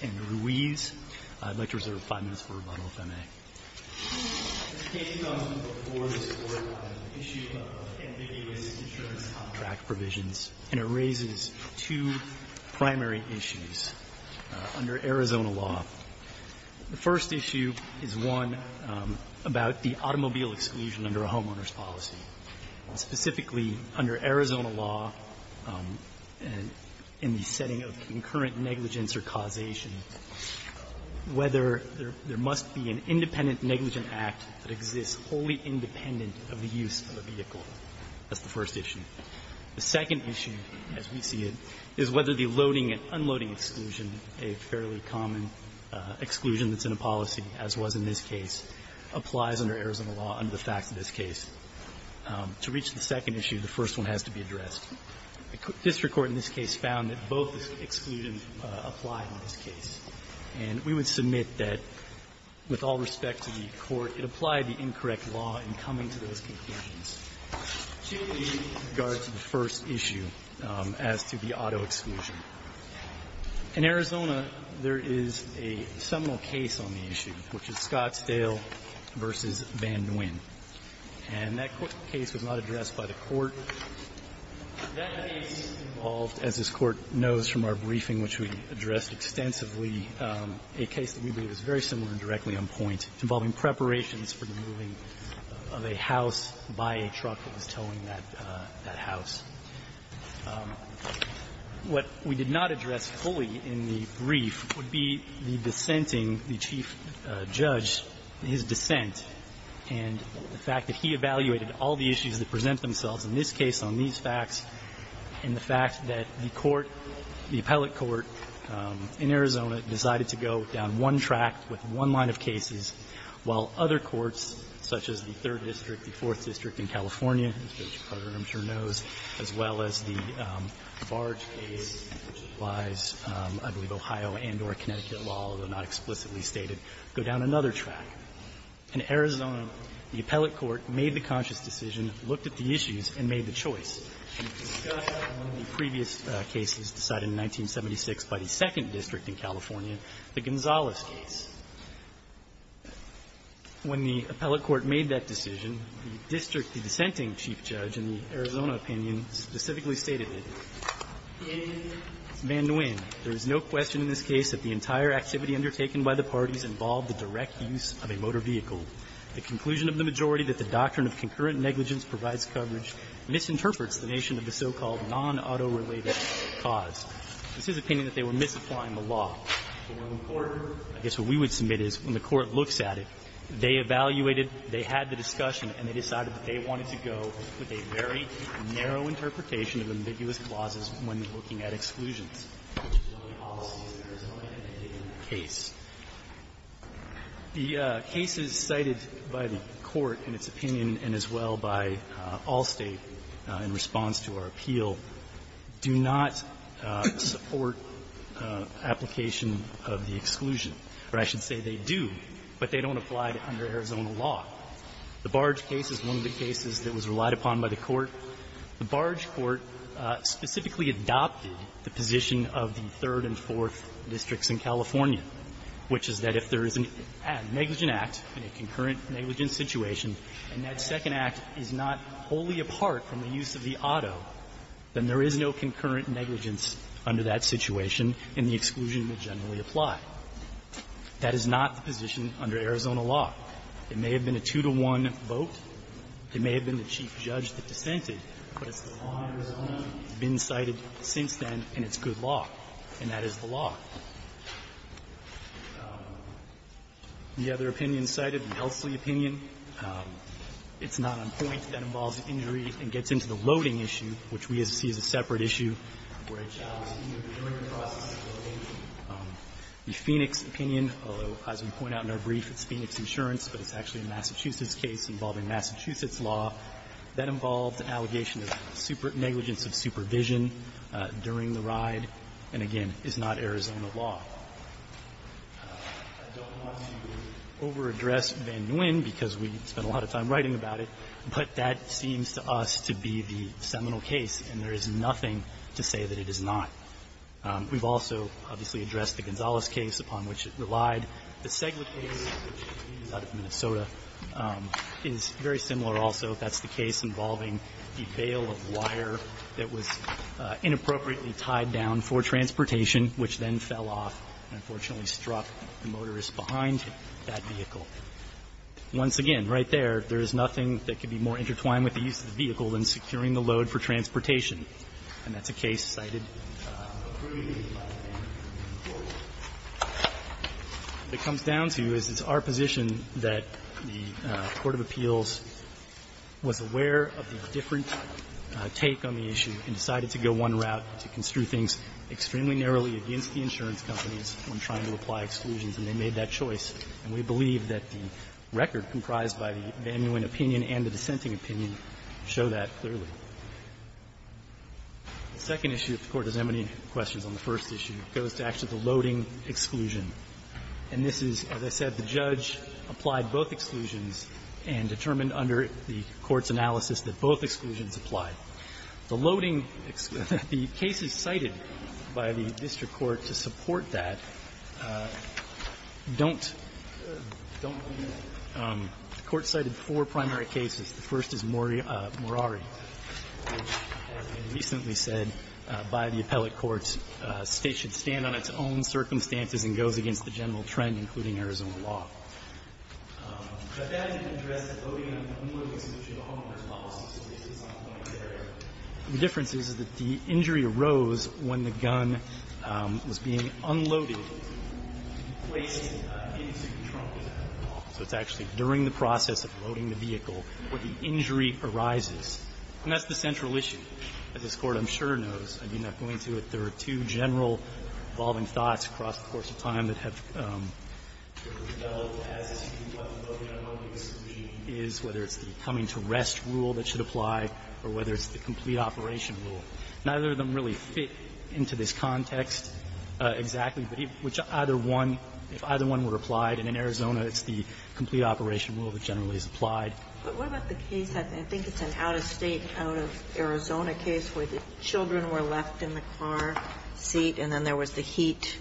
and Ruiz. I'd like to reserve five minutes for rebuttal, if I may. The case comes before this Court on an issue of ambiguous insurance contract provisions, and it raises two primary issues under Arizona law. The first issue is one about the automobile exclusion under a homeowner's And the third issue is one about the vehicle exclusion under a homeowner's policy. Specifically, under Arizona law, in the setting of concurrent negligence or causation, whether there must be an independent negligent act that exists wholly independent of the use of a vehicle. That's the first issue. The second issue, as we see it, is whether the loading and unloading exclusion, a fairly common exclusion that's in a policy, as was in this case, applies under Arizona law under the facts of this case. To reach the second issue, the first one has to be addressed. District court in this case found that both exclusions apply in this case. And we would submit that, with all respect to the Court, it applied the incorrect law in coming to those conclusions, particularly in regard to the first issue as to the auto exclusion. In Arizona, there is a seminal case on the issue, which is Scottsdale v. Boehner v. Van Nguyen. And that case was not addressed by the Court. That case involved, as this Court knows from our briefing, which we addressed extensively, a case that we believe is very similar directly on point, involving preparations for the moving of a house by a truck that was towing that house. What we did not address fully in the brief would be the dissenting, the chief judge, his dissent, and the fact that he evaluated all the issues that present themselves in this case on these facts, and the fact that the Court, the appellate court in Arizona, decided to go down one track with one line of cases, while other courts, such as the Third District, the Fourth District in California, as Judge Carter, I'm sure, knows, as well as the Barge case, which applies, I believe, Ohio and or Connecticut law, although not explicitly stated, go down another track. In Arizona, the appellate court made the conscious decision, looked at the issues, and made the choice. We've discussed one of the previous cases decided in 1976 by the Second District in California, the Gonzales case. When the appellate court made that decision, the district, the dissenting chief judge, in the Arizona opinion, specifically stated it. Van Nguyen, there is no question in this case that the entire activity undertaken by the parties involved the direct use of a motor vehicle. The conclusion of the majority that the doctrine of concurrent negligence provides coverage misinterprets the nation of the so-called non-auto-related cause. This is opinion that they were misapplying the law. So when the court, I guess what we would submit is when the court looks at it, they evaluated, they had the discussion, and they decided that they wanted to go with a very narrow interpretation of ambiguous clauses when looking at exclusions, which is one of the policies of Arizona in that case. The cases cited by the court in its opinion and as well by Allstate in response to our appeal do not support application of the exclusion, or I should say they do, but they don't apply it under Arizona law. The Barge case is one of the cases that was relied upon by the court. The Barge court specifically adopted the position of the third and fourth districts in California, which is that if there is a negligent act in a concurrent negligent situation, and that second act is not wholly apart from the use of the auto, then there is no concurrent negligence under that situation, and the exclusion would generally apply. That is not the position under Arizona law. It may have been a two-to-one vote. It may have been the chief judge that dissented, but it's the law in Arizona that's been cited since then, and it's good law, and that is the law. The other opinion cited, the Elsley opinion, it's not on point. That involves injury and gets into the loading issue, which we see as a separate issue where a child is injured during the process of loading. The Phoenix opinion, although, as we point out in our brief, it's Phoenix Insurance, but it's actually a Massachusetts case involving Massachusetts law, that involves an allegation of negligence of supervision during the ride, and again, it's not Arizona law. I don't want to over-address Van Nguyen because we spent a lot of time writing about it, but that seems to us to be the seminal case, and there is nothing to say that it is not. We've also, obviously, addressed the Gonzales case upon which it relied. The Segla case, which is out of Minnesota, is very similar also. That's the case involving the bail of wire that was inappropriately tied down for transportation, which then fell off and, unfortunately, struck the motorist behind that vehicle. Once again, right there, there is nothing that can be more intertwined with the use of the vehicle than securing the load for transportation, and that's a case cited by Van Nguyen in court. What it comes down to is it's our position that the court of appeals was aware of the different take on the issue and decided to go one route, to construe things explicitly and extremely narrowly against the insurance companies when trying to apply exclusions, and they made that choice, and we believe that the record comprised by the Van Nguyen opinion and the dissenting opinion show that clearly. The second issue, if the Court doesn't have any questions on the first issue, goes back to the loading exclusion, and this is, as I said, the judge applied both exclusions and determined under the court's analysis that both exclusions applied. The loading, the cases cited by the district court to support that don't, don't mean that. The court cited four primary cases. The first is Morari, which, as I recently said by the appellate courts, States should stand on its own circumstances and goes against the general trend, including Arizona law. But that didn't address the loading and unloading solution at all in the first case. The difference is that the injury arose when the gun was being unloaded, placed into the trunk of the vehicle. So it's actually during the process of loading the vehicle where the injury arises. And that's the central issue that this Court, I'm sure, knows. I mean, not going into it, there are two general evolving thoughts across the course of time that have developed as to what the loading and unloading solution is, whether it's the coming to rest rule that should apply or whether it's the complete operation rule. Neither of them really fit into this context exactly, but if either one were applied in Arizona, it's the complete operation rule that generally is applied. But what about the case, I think it's an out-of-state, out-of-Arizona case, where the children were left in the car seat and then there was the heat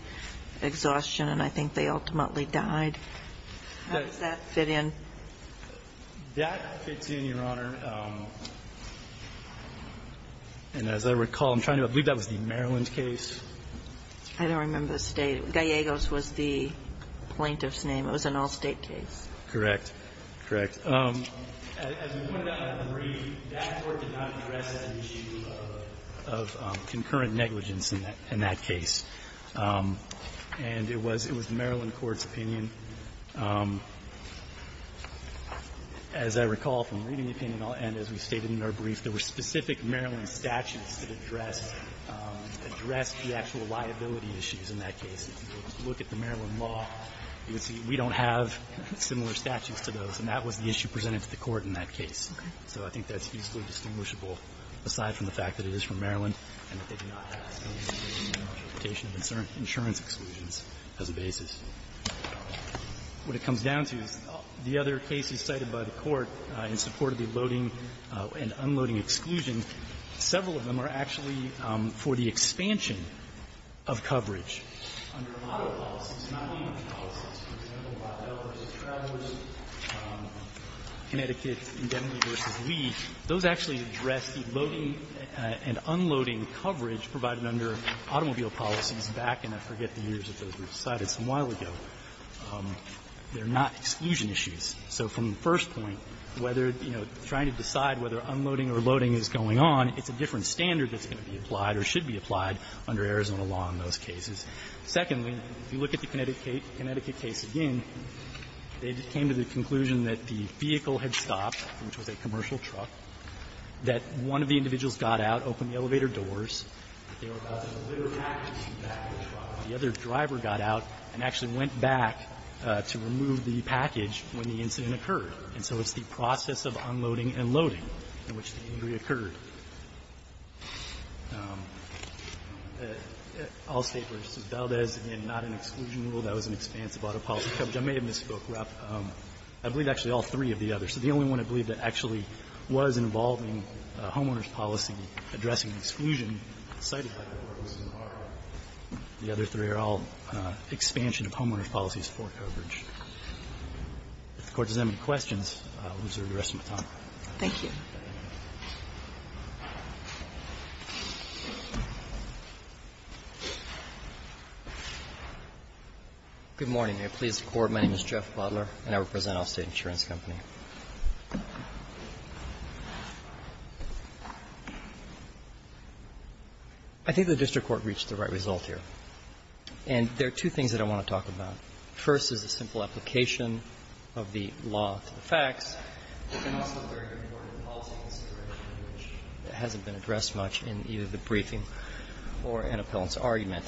exhaustion and I think they ultimately died. How does that fit in? That fits in, Your Honor. And as I recall, I'm trying to believe that was the Maryland case. I don't remember the state. Gallegos was the plaintiff's name. It was an all-state case. Correct. Correct. As we pointed out in the brief, that Court did not address that issue of concurrent negligence in that case. And it was Maryland court's opinion. As I recall from reading the opinion, and as we stated in our brief, there were specific Maryland statutes that addressed the actual liability issues in that case. If you look at the Maryland law, you can see we don't have similar statutes to those, and that was the issue presented to the Court in that case. Okay. So I think that's easily distinguishable, aside from the fact that it is from Maryland and that they do not have the interpretation of insurance exclusions as a basis. What it comes down to is the other cases cited by the Court in support of the loading and unloading exclusion, several of them are actually for the expansion of coverage under model policies, not legal policies. For example, Ohio v. Travelers, Connecticut Indemnity v. Lee, those actually address the loading and unloading coverage provided under automobile policies back in, I forget the years that those were cited, some while ago. They're not exclusion issues. So from the first point, whether, you know, trying to decide whether unloading or loading is going on, it's a different standard that's going to be applied or should be applied under Arizona law in those cases. Secondly, if you look at the Connecticut case again, they came to the conclusion that the vehicle had stopped, which was a commercial truck, that one of the individuals got out, opened the elevator doors, that they were about to deliver packages to the back of the truck, and the other driver got out and actually went back to remove the package when the incident occurred. And so it's the process of unloading and loading in which the injury occurred. All State versus Valdez, again, not an exclusion rule. That was an expanse of auto policy coverage. I may have misspoke, Rob. I believe actually all three of the others. The only one I believe that actually was involving homeowners' policy addressing the exclusion cited by the Court was Zimbardo. The other three are all expansion of homeowners' policies for coverage. If the Court does have any questions, I'll reserve the rest of my time. Thank you. Good morning. May it please the Court. My name is Jeff Butler, and I represent Allstate Insurance Company. I think the district court reached the right result here. And there are two things that I want to talk about. First is the simple application of the law to the facts. There's also a very important policy consideration which hasn't been addressed much in either the briefing or in Appellant's argument.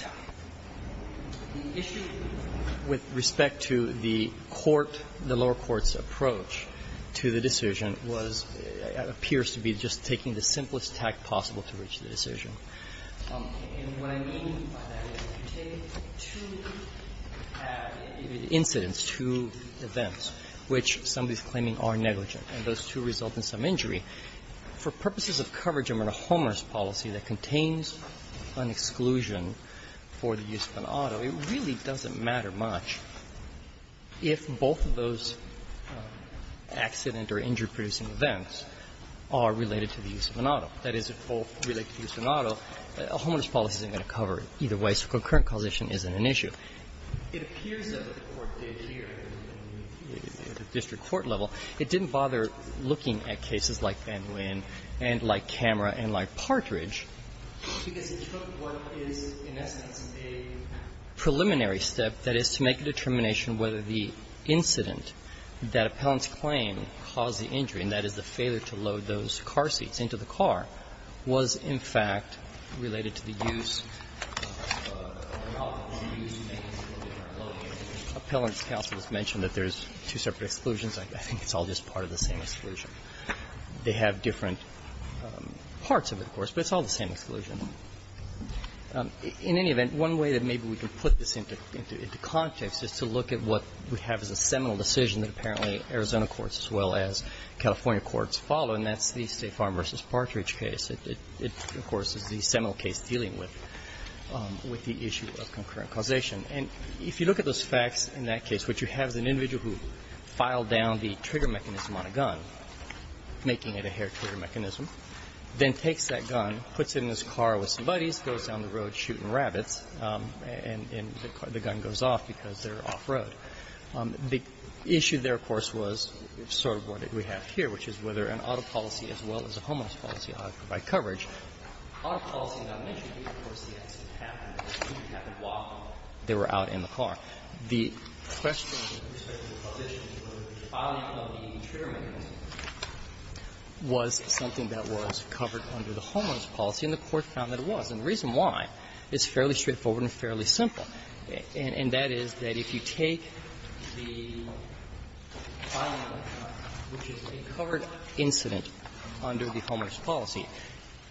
The issue with respect to the court, the lower court's approach to the decision was, appears to be just taking the simplest tact possible to reach the decision. And what I mean by that is you take two incidents, two events, which somebody is claiming are negligent, and those two result in some injury. For purposes of coverage under the homeowners' policy that contains an exclusion for the use of an auto, it really doesn't matter much if both of those accident or injury-producing events are related to the use of an auto. That is, if both relate to the use of an auto, a homeowners' policy isn't going to cover it either way, so concurrent causation isn't an issue. It appears that the Court did here at the district court level. It didn't bother looking at cases like Van Nguyen and like Camera and like Partridge because it took what is, in essence, a preliminary step, that is, to make a determination whether the incident that Appellant's claim caused the injury, and that is the failure to load those car seats into the car, was, in fact, related to the use of an auto, or the use of an exclusive car. Appellant's counsel has mentioned that there's two separate exclusions. I think it's all just part of the same exclusion. They have different parts of it, of course, but it's all the same exclusion. In any event, one way that maybe we can put this into context is to look at what we have as a seminal decision that apparently Arizona courts as well as California courts follow, and that's the State Farm v. Partridge case. It, of course, is the seminal case dealing with the issue of concurrent causation. And if you look at those facts in that case, what you have is an individual who filed down the trigger mechanism on a gun, making it a hair-trigger mechanism, then takes that gun, puts it in his car with some buddies, goes down the road shooting rabbits, and the gun goes off because they're off-road. The issue there, of course, was sort of what we have here, which is whether an auto policy ought to provide coverage. Auto policy, as I mentioned, of course, the accident happened. It didn't happen while they were out in the car. The question with respect to the position for the filing of the trigger mechanism was something that was covered under the homeowner's policy, and the Court found that it was. And the reason why is fairly straightforward and fairly simple. And that is that if you take the filing of the trigger mechanism, which is a covered incident under the homeowner's policy,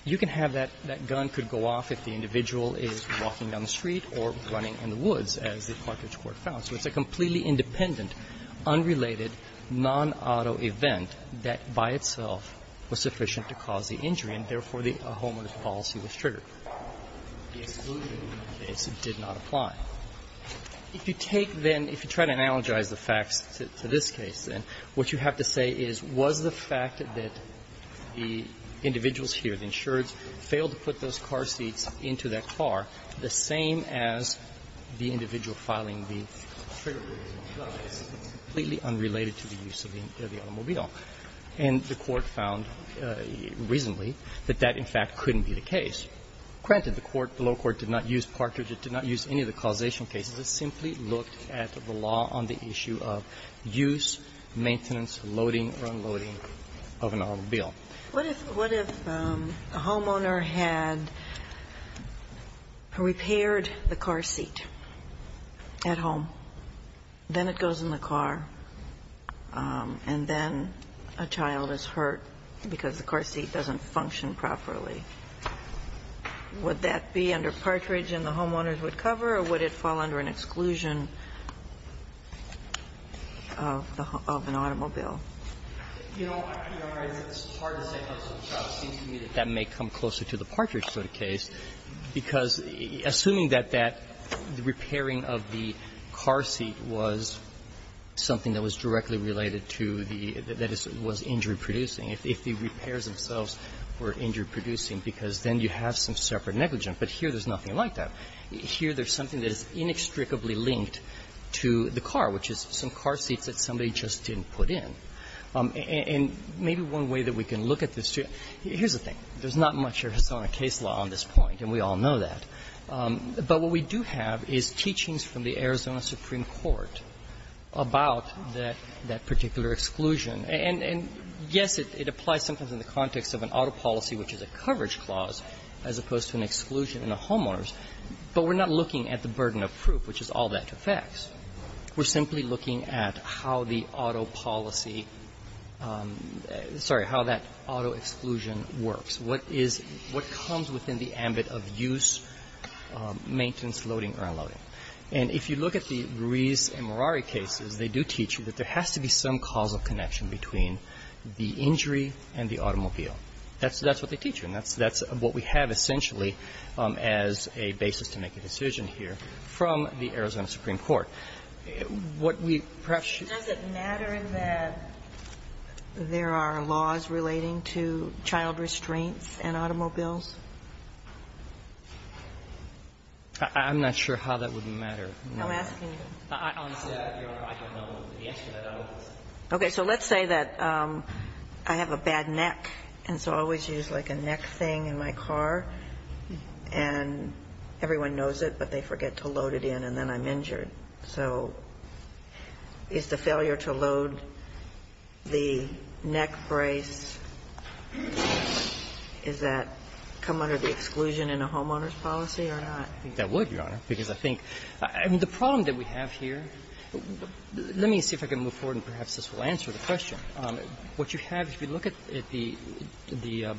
you can have that gun could go off if the individual is walking down the street or running in the woods, as the Carthage Court found. So it's a completely independent, unrelated, non-auto event that by itself was sufficient to cause the injury, and therefore the homeowner's policy was triggered. The exclusion case did not apply. If you take, then, if you try to analogize the facts to this case, then, what you have to say is, was the fact that the individuals here, the insureds, failed to put those car seats into that car the same as the individual filing the trigger mechanism? No. It's completely unrelated to the use of the automobile. And the Court found recently that that, in fact, couldn't be the case. Granted, the court, the lower court, did not use Partridge. It did not use any of the causation cases. It simply looked at the law on the issue of use, maintenance, loading or unloading of an automobile. What if the homeowner had repaired the car seat at home, then it goes in the car, and then a child is hurt because the car seat doesn't function properly? Would that be under Partridge and the homeowners would cover, or would it fall under an exclusion of the home of an automobile? You know, I realize it's hard to say, but it seems to me that that may come closer to the Partridge sort of case, because assuming that that repairing of the car seat was something that was directly related to the, that was injury-producing, if the repairs themselves were injury-producing, because then you have some separate negligence. But here there's nothing like that. Here there's something that is inextricably linked to the car, which is some car seats that somebody just didn't put in. And maybe one way that we can look at this, too, here's the thing. There's not much Arizona case law on this point, and we all know that. But what we do have is teachings from the Arizona Supreme Court about that particular exclusion. And, yes, it applies sometimes in the context of an auto policy, which is a coverage clause, as opposed to an exclusion in the homeowners, but we're not looking at the burden of proof, which is all that affects. We're simply looking at how the auto policy – sorry, how that auto exclusion works, what is, what comes within the ambit of use, maintenance, loading, or unloading. And if you look at the Ruiz and Mirari cases, they do teach you that there has to be some causal connection between the injury and the automobile. That's what they teach you. And that's what we have essentially as a basis to make a decision here from the Arizona Supreme Court. What we perhaps should do – Sotomayor Does it matter that there are laws relating to child restraints and automobiles? Gershengorn I'm not sure how that would matter. Sotomayor I'm asking you. Gershengorn Okay. So let's say that I have a bad neck, and so I always use, like, a neck thing in my car, and everyone knows it, but they forget to load it in, and then I'm injured. So is the failure to load the neck brace, does that come under the exclusion in a homeowners policy or not? Gershengorn I don't think that would, Your Honor, because I think – and the problem that we have here – let me see if I can move forward and perhaps this will answer the question. What you have, if you look at the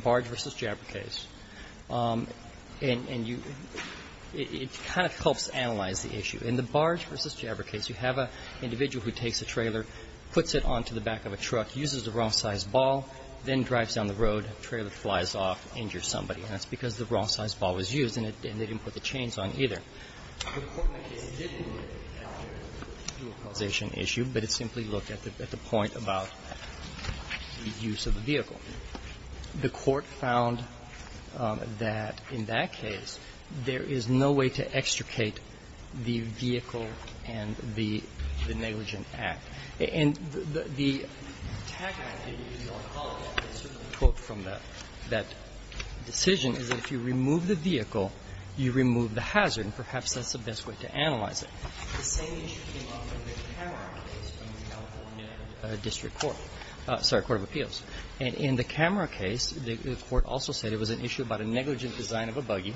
Barge v. Jabber case, and you – it kind of helps analyze the issue. In the Barge v. Jabber case, you have an individual who takes a trailer, puts it onto the back of a truck, uses the wrong-sized ball, then drives down the road, the trailer flies off, injures somebody, and that's because the wrong-sized ball was used and they didn't put the chains on either. The court in that case didn't look at the dual causation issue, but it simply looked at the point about the use of the vehicle. The court found that in that case, there is no way to extricate the vehicle and the negligent act. And the tagline that you use on college, and I certainly quote from that decision, is that if you remove the vehicle, you remove the hazard, and perhaps that's the best way to analyze it. The same issue came up in the Camera case from the California district court – sorry, court of appeals. In the Camera case, the court also said it was an issue about a negligent design of a buggy,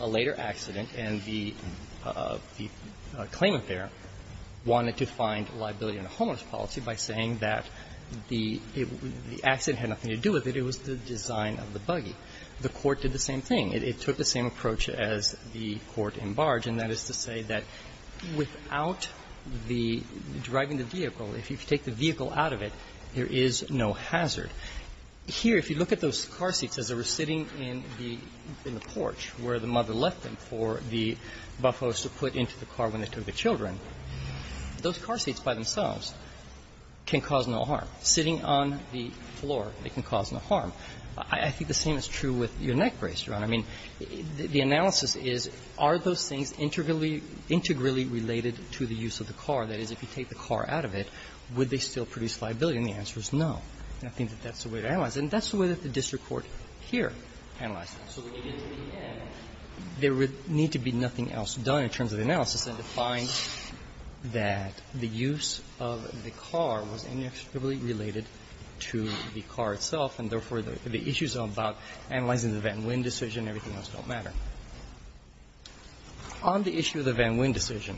a later accident, and the claimant there wanted to find liability on a homeless policy by saying that the accident had nothing to do with it, it was the design of the buggy. The court did the same thing. It took the same approach as the court in Barge, and that is to say that without the driving the vehicle, if you take the vehicle out of it, there is no hazard. Here, if you look at those car seats as they were sitting in the porch where the mother left them for the buffos to put into the car when they took the children, those car seats by themselves can cause no harm. Sitting on the floor, they can cause no harm. I think the same is true with your neck brace, Your Honor. I mean, the analysis is, are those things integrally related to the use of the car? That is, if you take the car out of it, would they still produce liability? And the answer is no. And I think that that's the way to analyze it. And that's the way that the district court here analyzed it. So when you get to the end, there would need to be nothing else done in terms of the analysis than to find that the use of the car was integrally related to the car itself, and therefore, the issues about analyzing the Van Wyn decision, everything else don't matter. On the issue of the Van Wyn decision,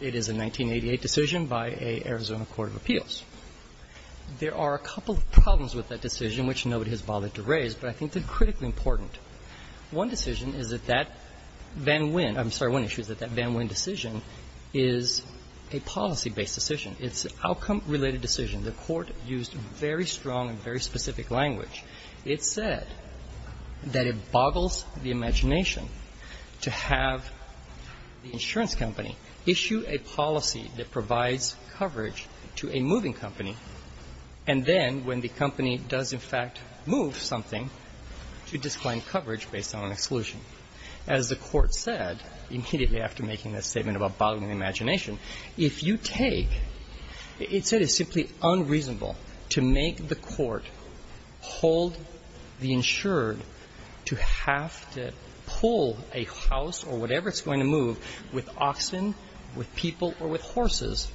it is a 1988 decision by a Arizona court of appeals. There are a couple of problems with that decision, which nobody has bothered to raise, but I think they're critically important. One decision is that that Van Wyn – I'm sorry, one issue is that that Van Wyn decision is a policy-based decision. It's an outcome-related decision. The court used very strong and very specific language. It said that it boggles the imagination to have the insurance company issue a policy that provides coverage to a moving company, and then when the company does, in fact, move something to disclaim coverage based on an exclusion. As the court said, immediately after making that statement about boggling the imagination, if you take – it said it's simply unreasonable to make the court hold the insured to have to pull a house or whatever it's going to move with oxen, with people, or with horses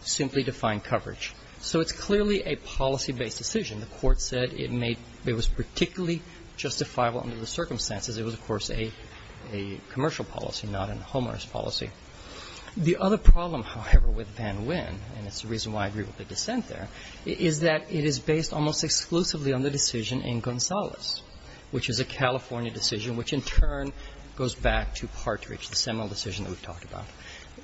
simply to find coverage. So it's clearly a policy-based decision. The court said it made – it was particularly justifiable under the circumstances. It was, of course, a commercial policy, not a homeowner's policy. The other problem, however, with Van Wyn – and it's the reason why I agree with the dissent there – is that it is based almost exclusively on the decision in Gonzales, which is a California decision, which in turn goes back to Partridge, the seminal decision that we've talked about.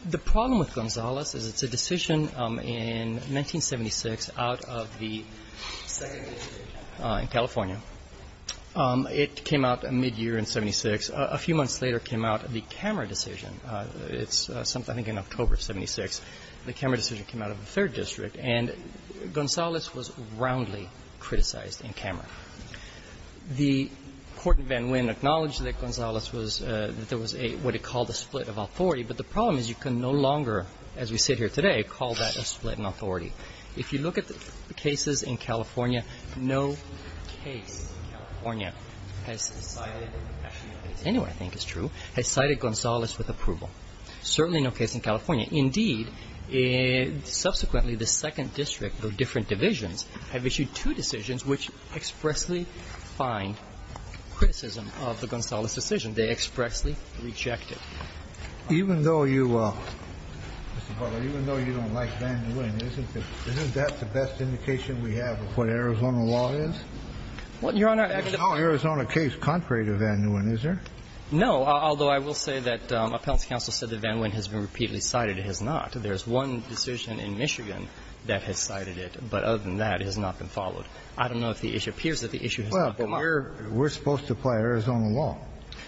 The problem with Gonzales is it's a decision in 1976 out of the second year in California. It came out mid-year in 76. A few months later came out the Camera decision. It's something in October of 76. The Camera decision came out of the third district, and Gonzales was roundly criticized in Camera. The court in Van Wyn acknowledged that Gonzales was – that there was a – what it called a split of authority, but the problem is you can no longer, as we sit here today, call that a split in authority. If you look at the cases in California, no case in California has cited – actually, anywhere I think is true – has cited Gonzales with approval. Certainly no case in California. Indeed, subsequently, the second district of different divisions have issued two decisions which expressly find criticism of the Gonzales decision. They expressly reject it. Even though you – Mr. Butler, even though you don't like Van Wyn, isn't that the best indication we have of what Arizona law is? Well, Your Honor, I – It's not an Arizona case contrary to Van Wyn, is there? No, although I will say that appellate counsel said that Van Wyn has been repeatedly cited. It has not. There's one decision in Michigan that has cited it, but other than that, it has not been followed. I don't know if the issue – it appears that the issue has not come up. Well, but we're supposed to apply Arizona law.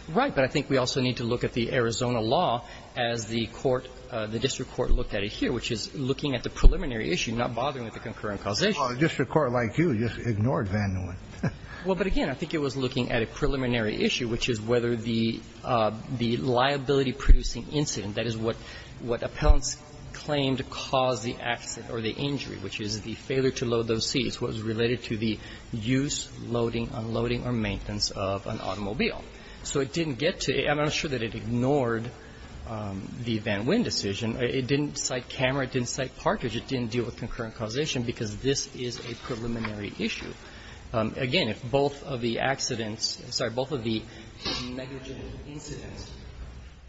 Right, but I think we also need to look at the Arizona law as the court – the district court looked at it here, which is looking at the preliminary issue, not bothering with the concurrent causation. Well, a district court like you just ignored Van Wyn. Well, but again, I think it was looking at a preliminary issue, which is whether the liability-producing incident, that is what appellants claimed caused the accident or the injury, which is the failure to load those seats, was related to the use, loading, unloading, or maintenance of an automobile. So it didn't get to – I'm not sure that it ignored the Van Wyn decision. It didn't cite camera, it didn't cite partridge. It didn't deal with concurrent causation because this is a preliminary issue. Again, if both of the accidents – I'm sorry, both of the negligent incidents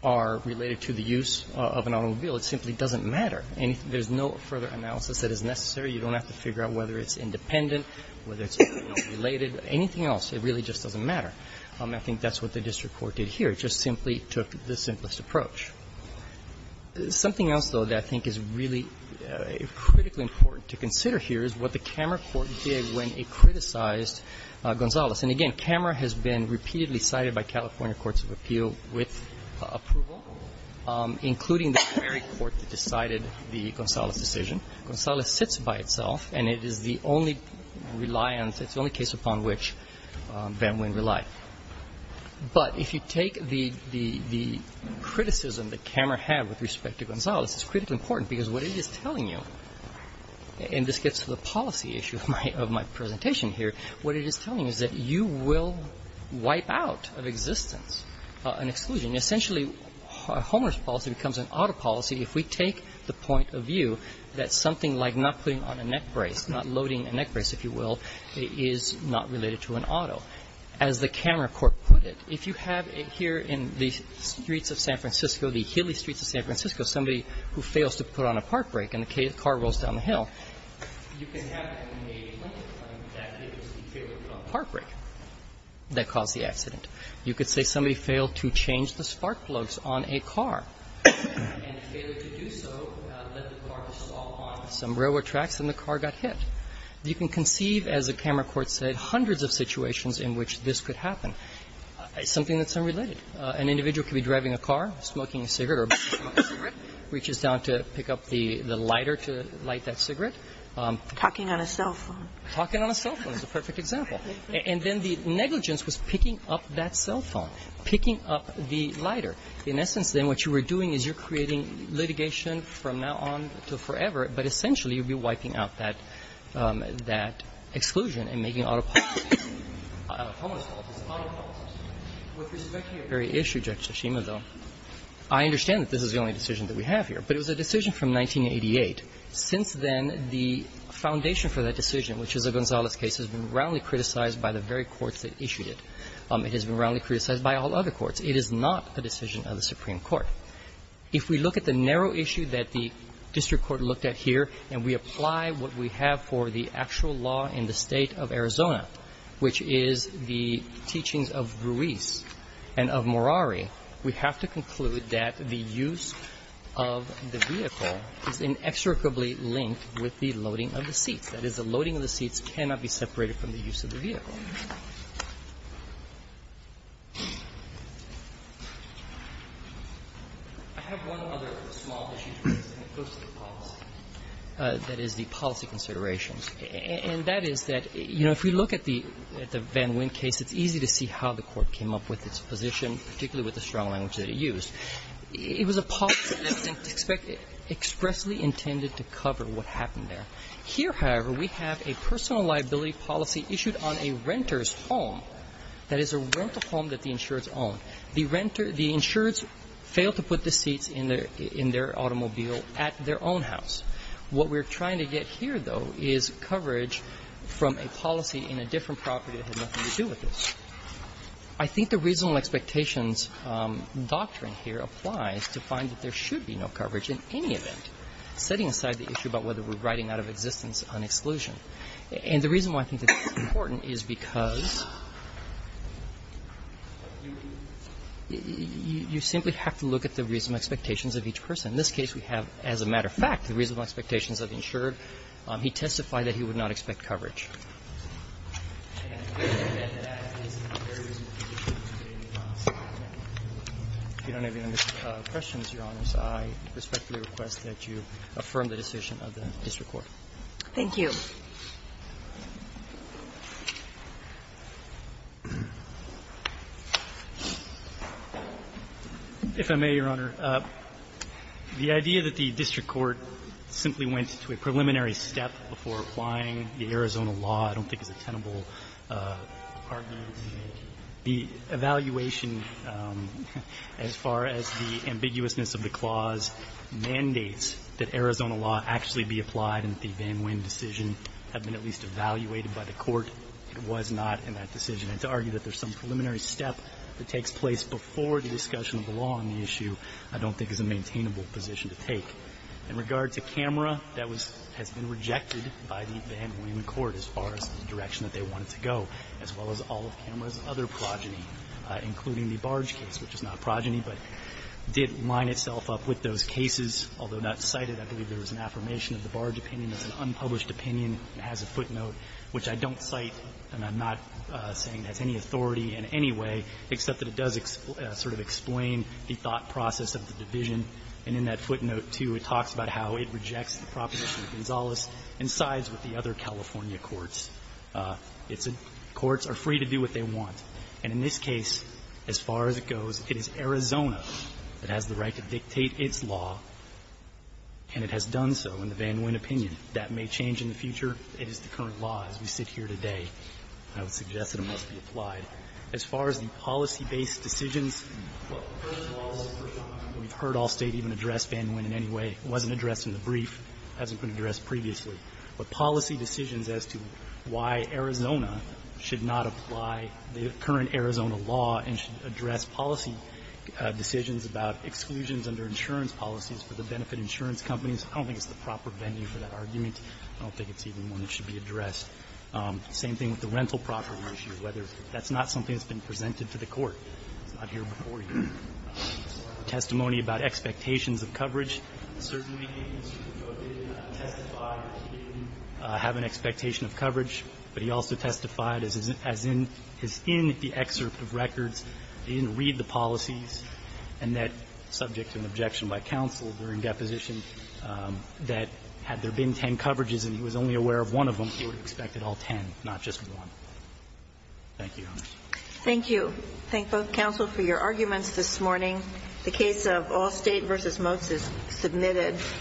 are related to the use of an automobile, it simply doesn't matter. There's no further analysis that is necessary. You don't have to figure out whether it's independent, whether it's related. Anything else, it really just doesn't matter. I think that's what the district court did here. It just simply took the simplest approach. Something else, though, that I think is really critically important to consider here is what the camera court did when it criticized Gonzales. And again, camera has been repeatedly cited by California courts of appeal with approval, including the very court that decided the Gonzales decision. Gonzales sits by itself, and it is the only reliance – it's the only case upon which Van Wyn relied. But if you take the criticism that camera had with respect to Gonzales, it's critically important because what it is telling you – and this gets to the policy issue of my presentation here – what it is telling you is that you will wipe out of existence an exclusion. Essentially, a homeless policy becomes an auto policy if we take the point of view that something like not putting on a neck brace, not loading a neck brace, if you will, is not related to an auto. As the camera court put it, if you have here in the streets of San Francisco, the hilly streets of San Francisco, somebody who fails to put on a park brake and a car rolls down the hill, you can have in a limited time that it was the failure to put on a park brake that caused the accident. You could say somebody failed to change the spark plugs on a car, and the failure to do so led the car to stall on some railroad tracks and the car got hit. You can conceive, as the camera court said, hundreds of situations in which this could happen. It's something that's unrelated. An individual could be driving a car, smoking a cigarette or a bottle of cigarette, reaches down to pick up the lighter to light that cigarette. Kagan. Talking on a cell phone. Talking on a cell phone is a perfect example. And then the negligence was picking up that cell phone, picking up the lighter. In essence, then, what you were doing is you're creating litigation from now on to forever, but essentially you'd be wiping out that exclusion and making an auto policy, a homeless policy, an auto policy. With respect to your very issue, Judge Tshishima, though, I understand that this is the only decision that we have here, but it was a decision from 1988. Since then, the foundation for that decision, which is a Gonzales case, has been roundly criticized by the very courts that issued it. It has been roundly criticized by all other courts. It is not a decision of the Supreme Court. If we look at the narrow issue that the district court looked at here and we apply what we have for the actual law in the State of Arizona, which is the teachings of Ruiz and of Morari, we have to conclude that the use of the vehicle is inexorably linked with the loading of the seats. That is, the loading of the seats cannot be separated from the use of the vehicle. I have one other small issue that goes to the policy, that is, the policy considerations. And that is that, you know, if we look at the Van Wyn case, it's easy to see how the court came up with its position, particularly with the strong language that it used. It was a policy that was expressly intended to cover what happened there. Here, however, we have a personal liability policy issued on a renter's home, that is, a rental home that the insureds own. The insureds failed to put the seats in their automobile at their own house. What we're trying to get here, though, is coverage from a policy in a different property that had nothing to do with this. I think the reasonable expectations doctrine here applies to find that there should be no coverage in any event, setting aside the issue about whether we're writing out of existence on exclusion. And the reason why I think this is important is because you simply have to look at the reasonable expectations of each person. In this case, we have, as a matter of fact, the reasonable expectations of the insured. He testified that he would not expect coverage. If you don't have any other questions, Your Honors, I respectfully request that you affirm the decision of the district court. Thank you. If I may, Your Honor, the idea that the district court simply went to a preliminary step before applying the Arizona law, I don't think is a tenable argument. The evaluation, as far as the ambiguousness of the clause, mandates that Arizona law actually be applied and that the Van Wyn decision had been at least evaluated by the court. It was not in that decision. And to argue that there's some preliminary step that takes place before the discussion of the law on the issue, I don't think is a maintainable position to take. In regard to Camera, that has been rejected by the Van Wyn court as far as the direction that they wanted to go, as well as all of Camera's other progeny, including the Barge case, which is not a progeny, but did line itself up with those cases. Although not cited, I believe there was an affirmation of the Barge opinion. It's an unpublished opinion. It has a footnote, which I don't cite, and I'm not saying it has any authority in any way, except that it does sort of explain the thought process of the division. And in that footnote, too, it talks about how it rejects the proposition of Gonzales and sides with the other California courts. It's a --"Courts are free to do what they want." And in this case, as far as it goes, it is Arizona that has the right to dictate its law, and it has done so in the Van Wyn opinion. That may change in the future. It is the current law as we sit here today. I would suggest that it must be applied. As far as the policy-based decisions, we've heard all State even address Van Wyn in any way. It wasn't addressed in the brief. It hasn't been addressed previously. But policy decisions as to why Arizona should not apply the current Arizona law and address policy decisions about exclusions under insurance policies for the benefit insurance companies, I don't think it's the proper venue for that argument. I don't think it's even one that should be addressed. Same thing with the rental property issue, whether that's not something that's been presented to the Court. It's not here before you. Testimony about expectations of coverage. Certainly, Mr. DeVos didn't testify that he didn't have an expectation of coverage, but he also testified as in his in the excerpt of records, he didn't read the policies, and that, subject to an objection by counsel during deposition, that had there been 10 coverages and he was only aware of one of them, he would have expected all 10, not just one. Thank you, Your Honor. Thank you. Thank both counsel for your arguments this morning. The case of Allstate v. Motes is submitted.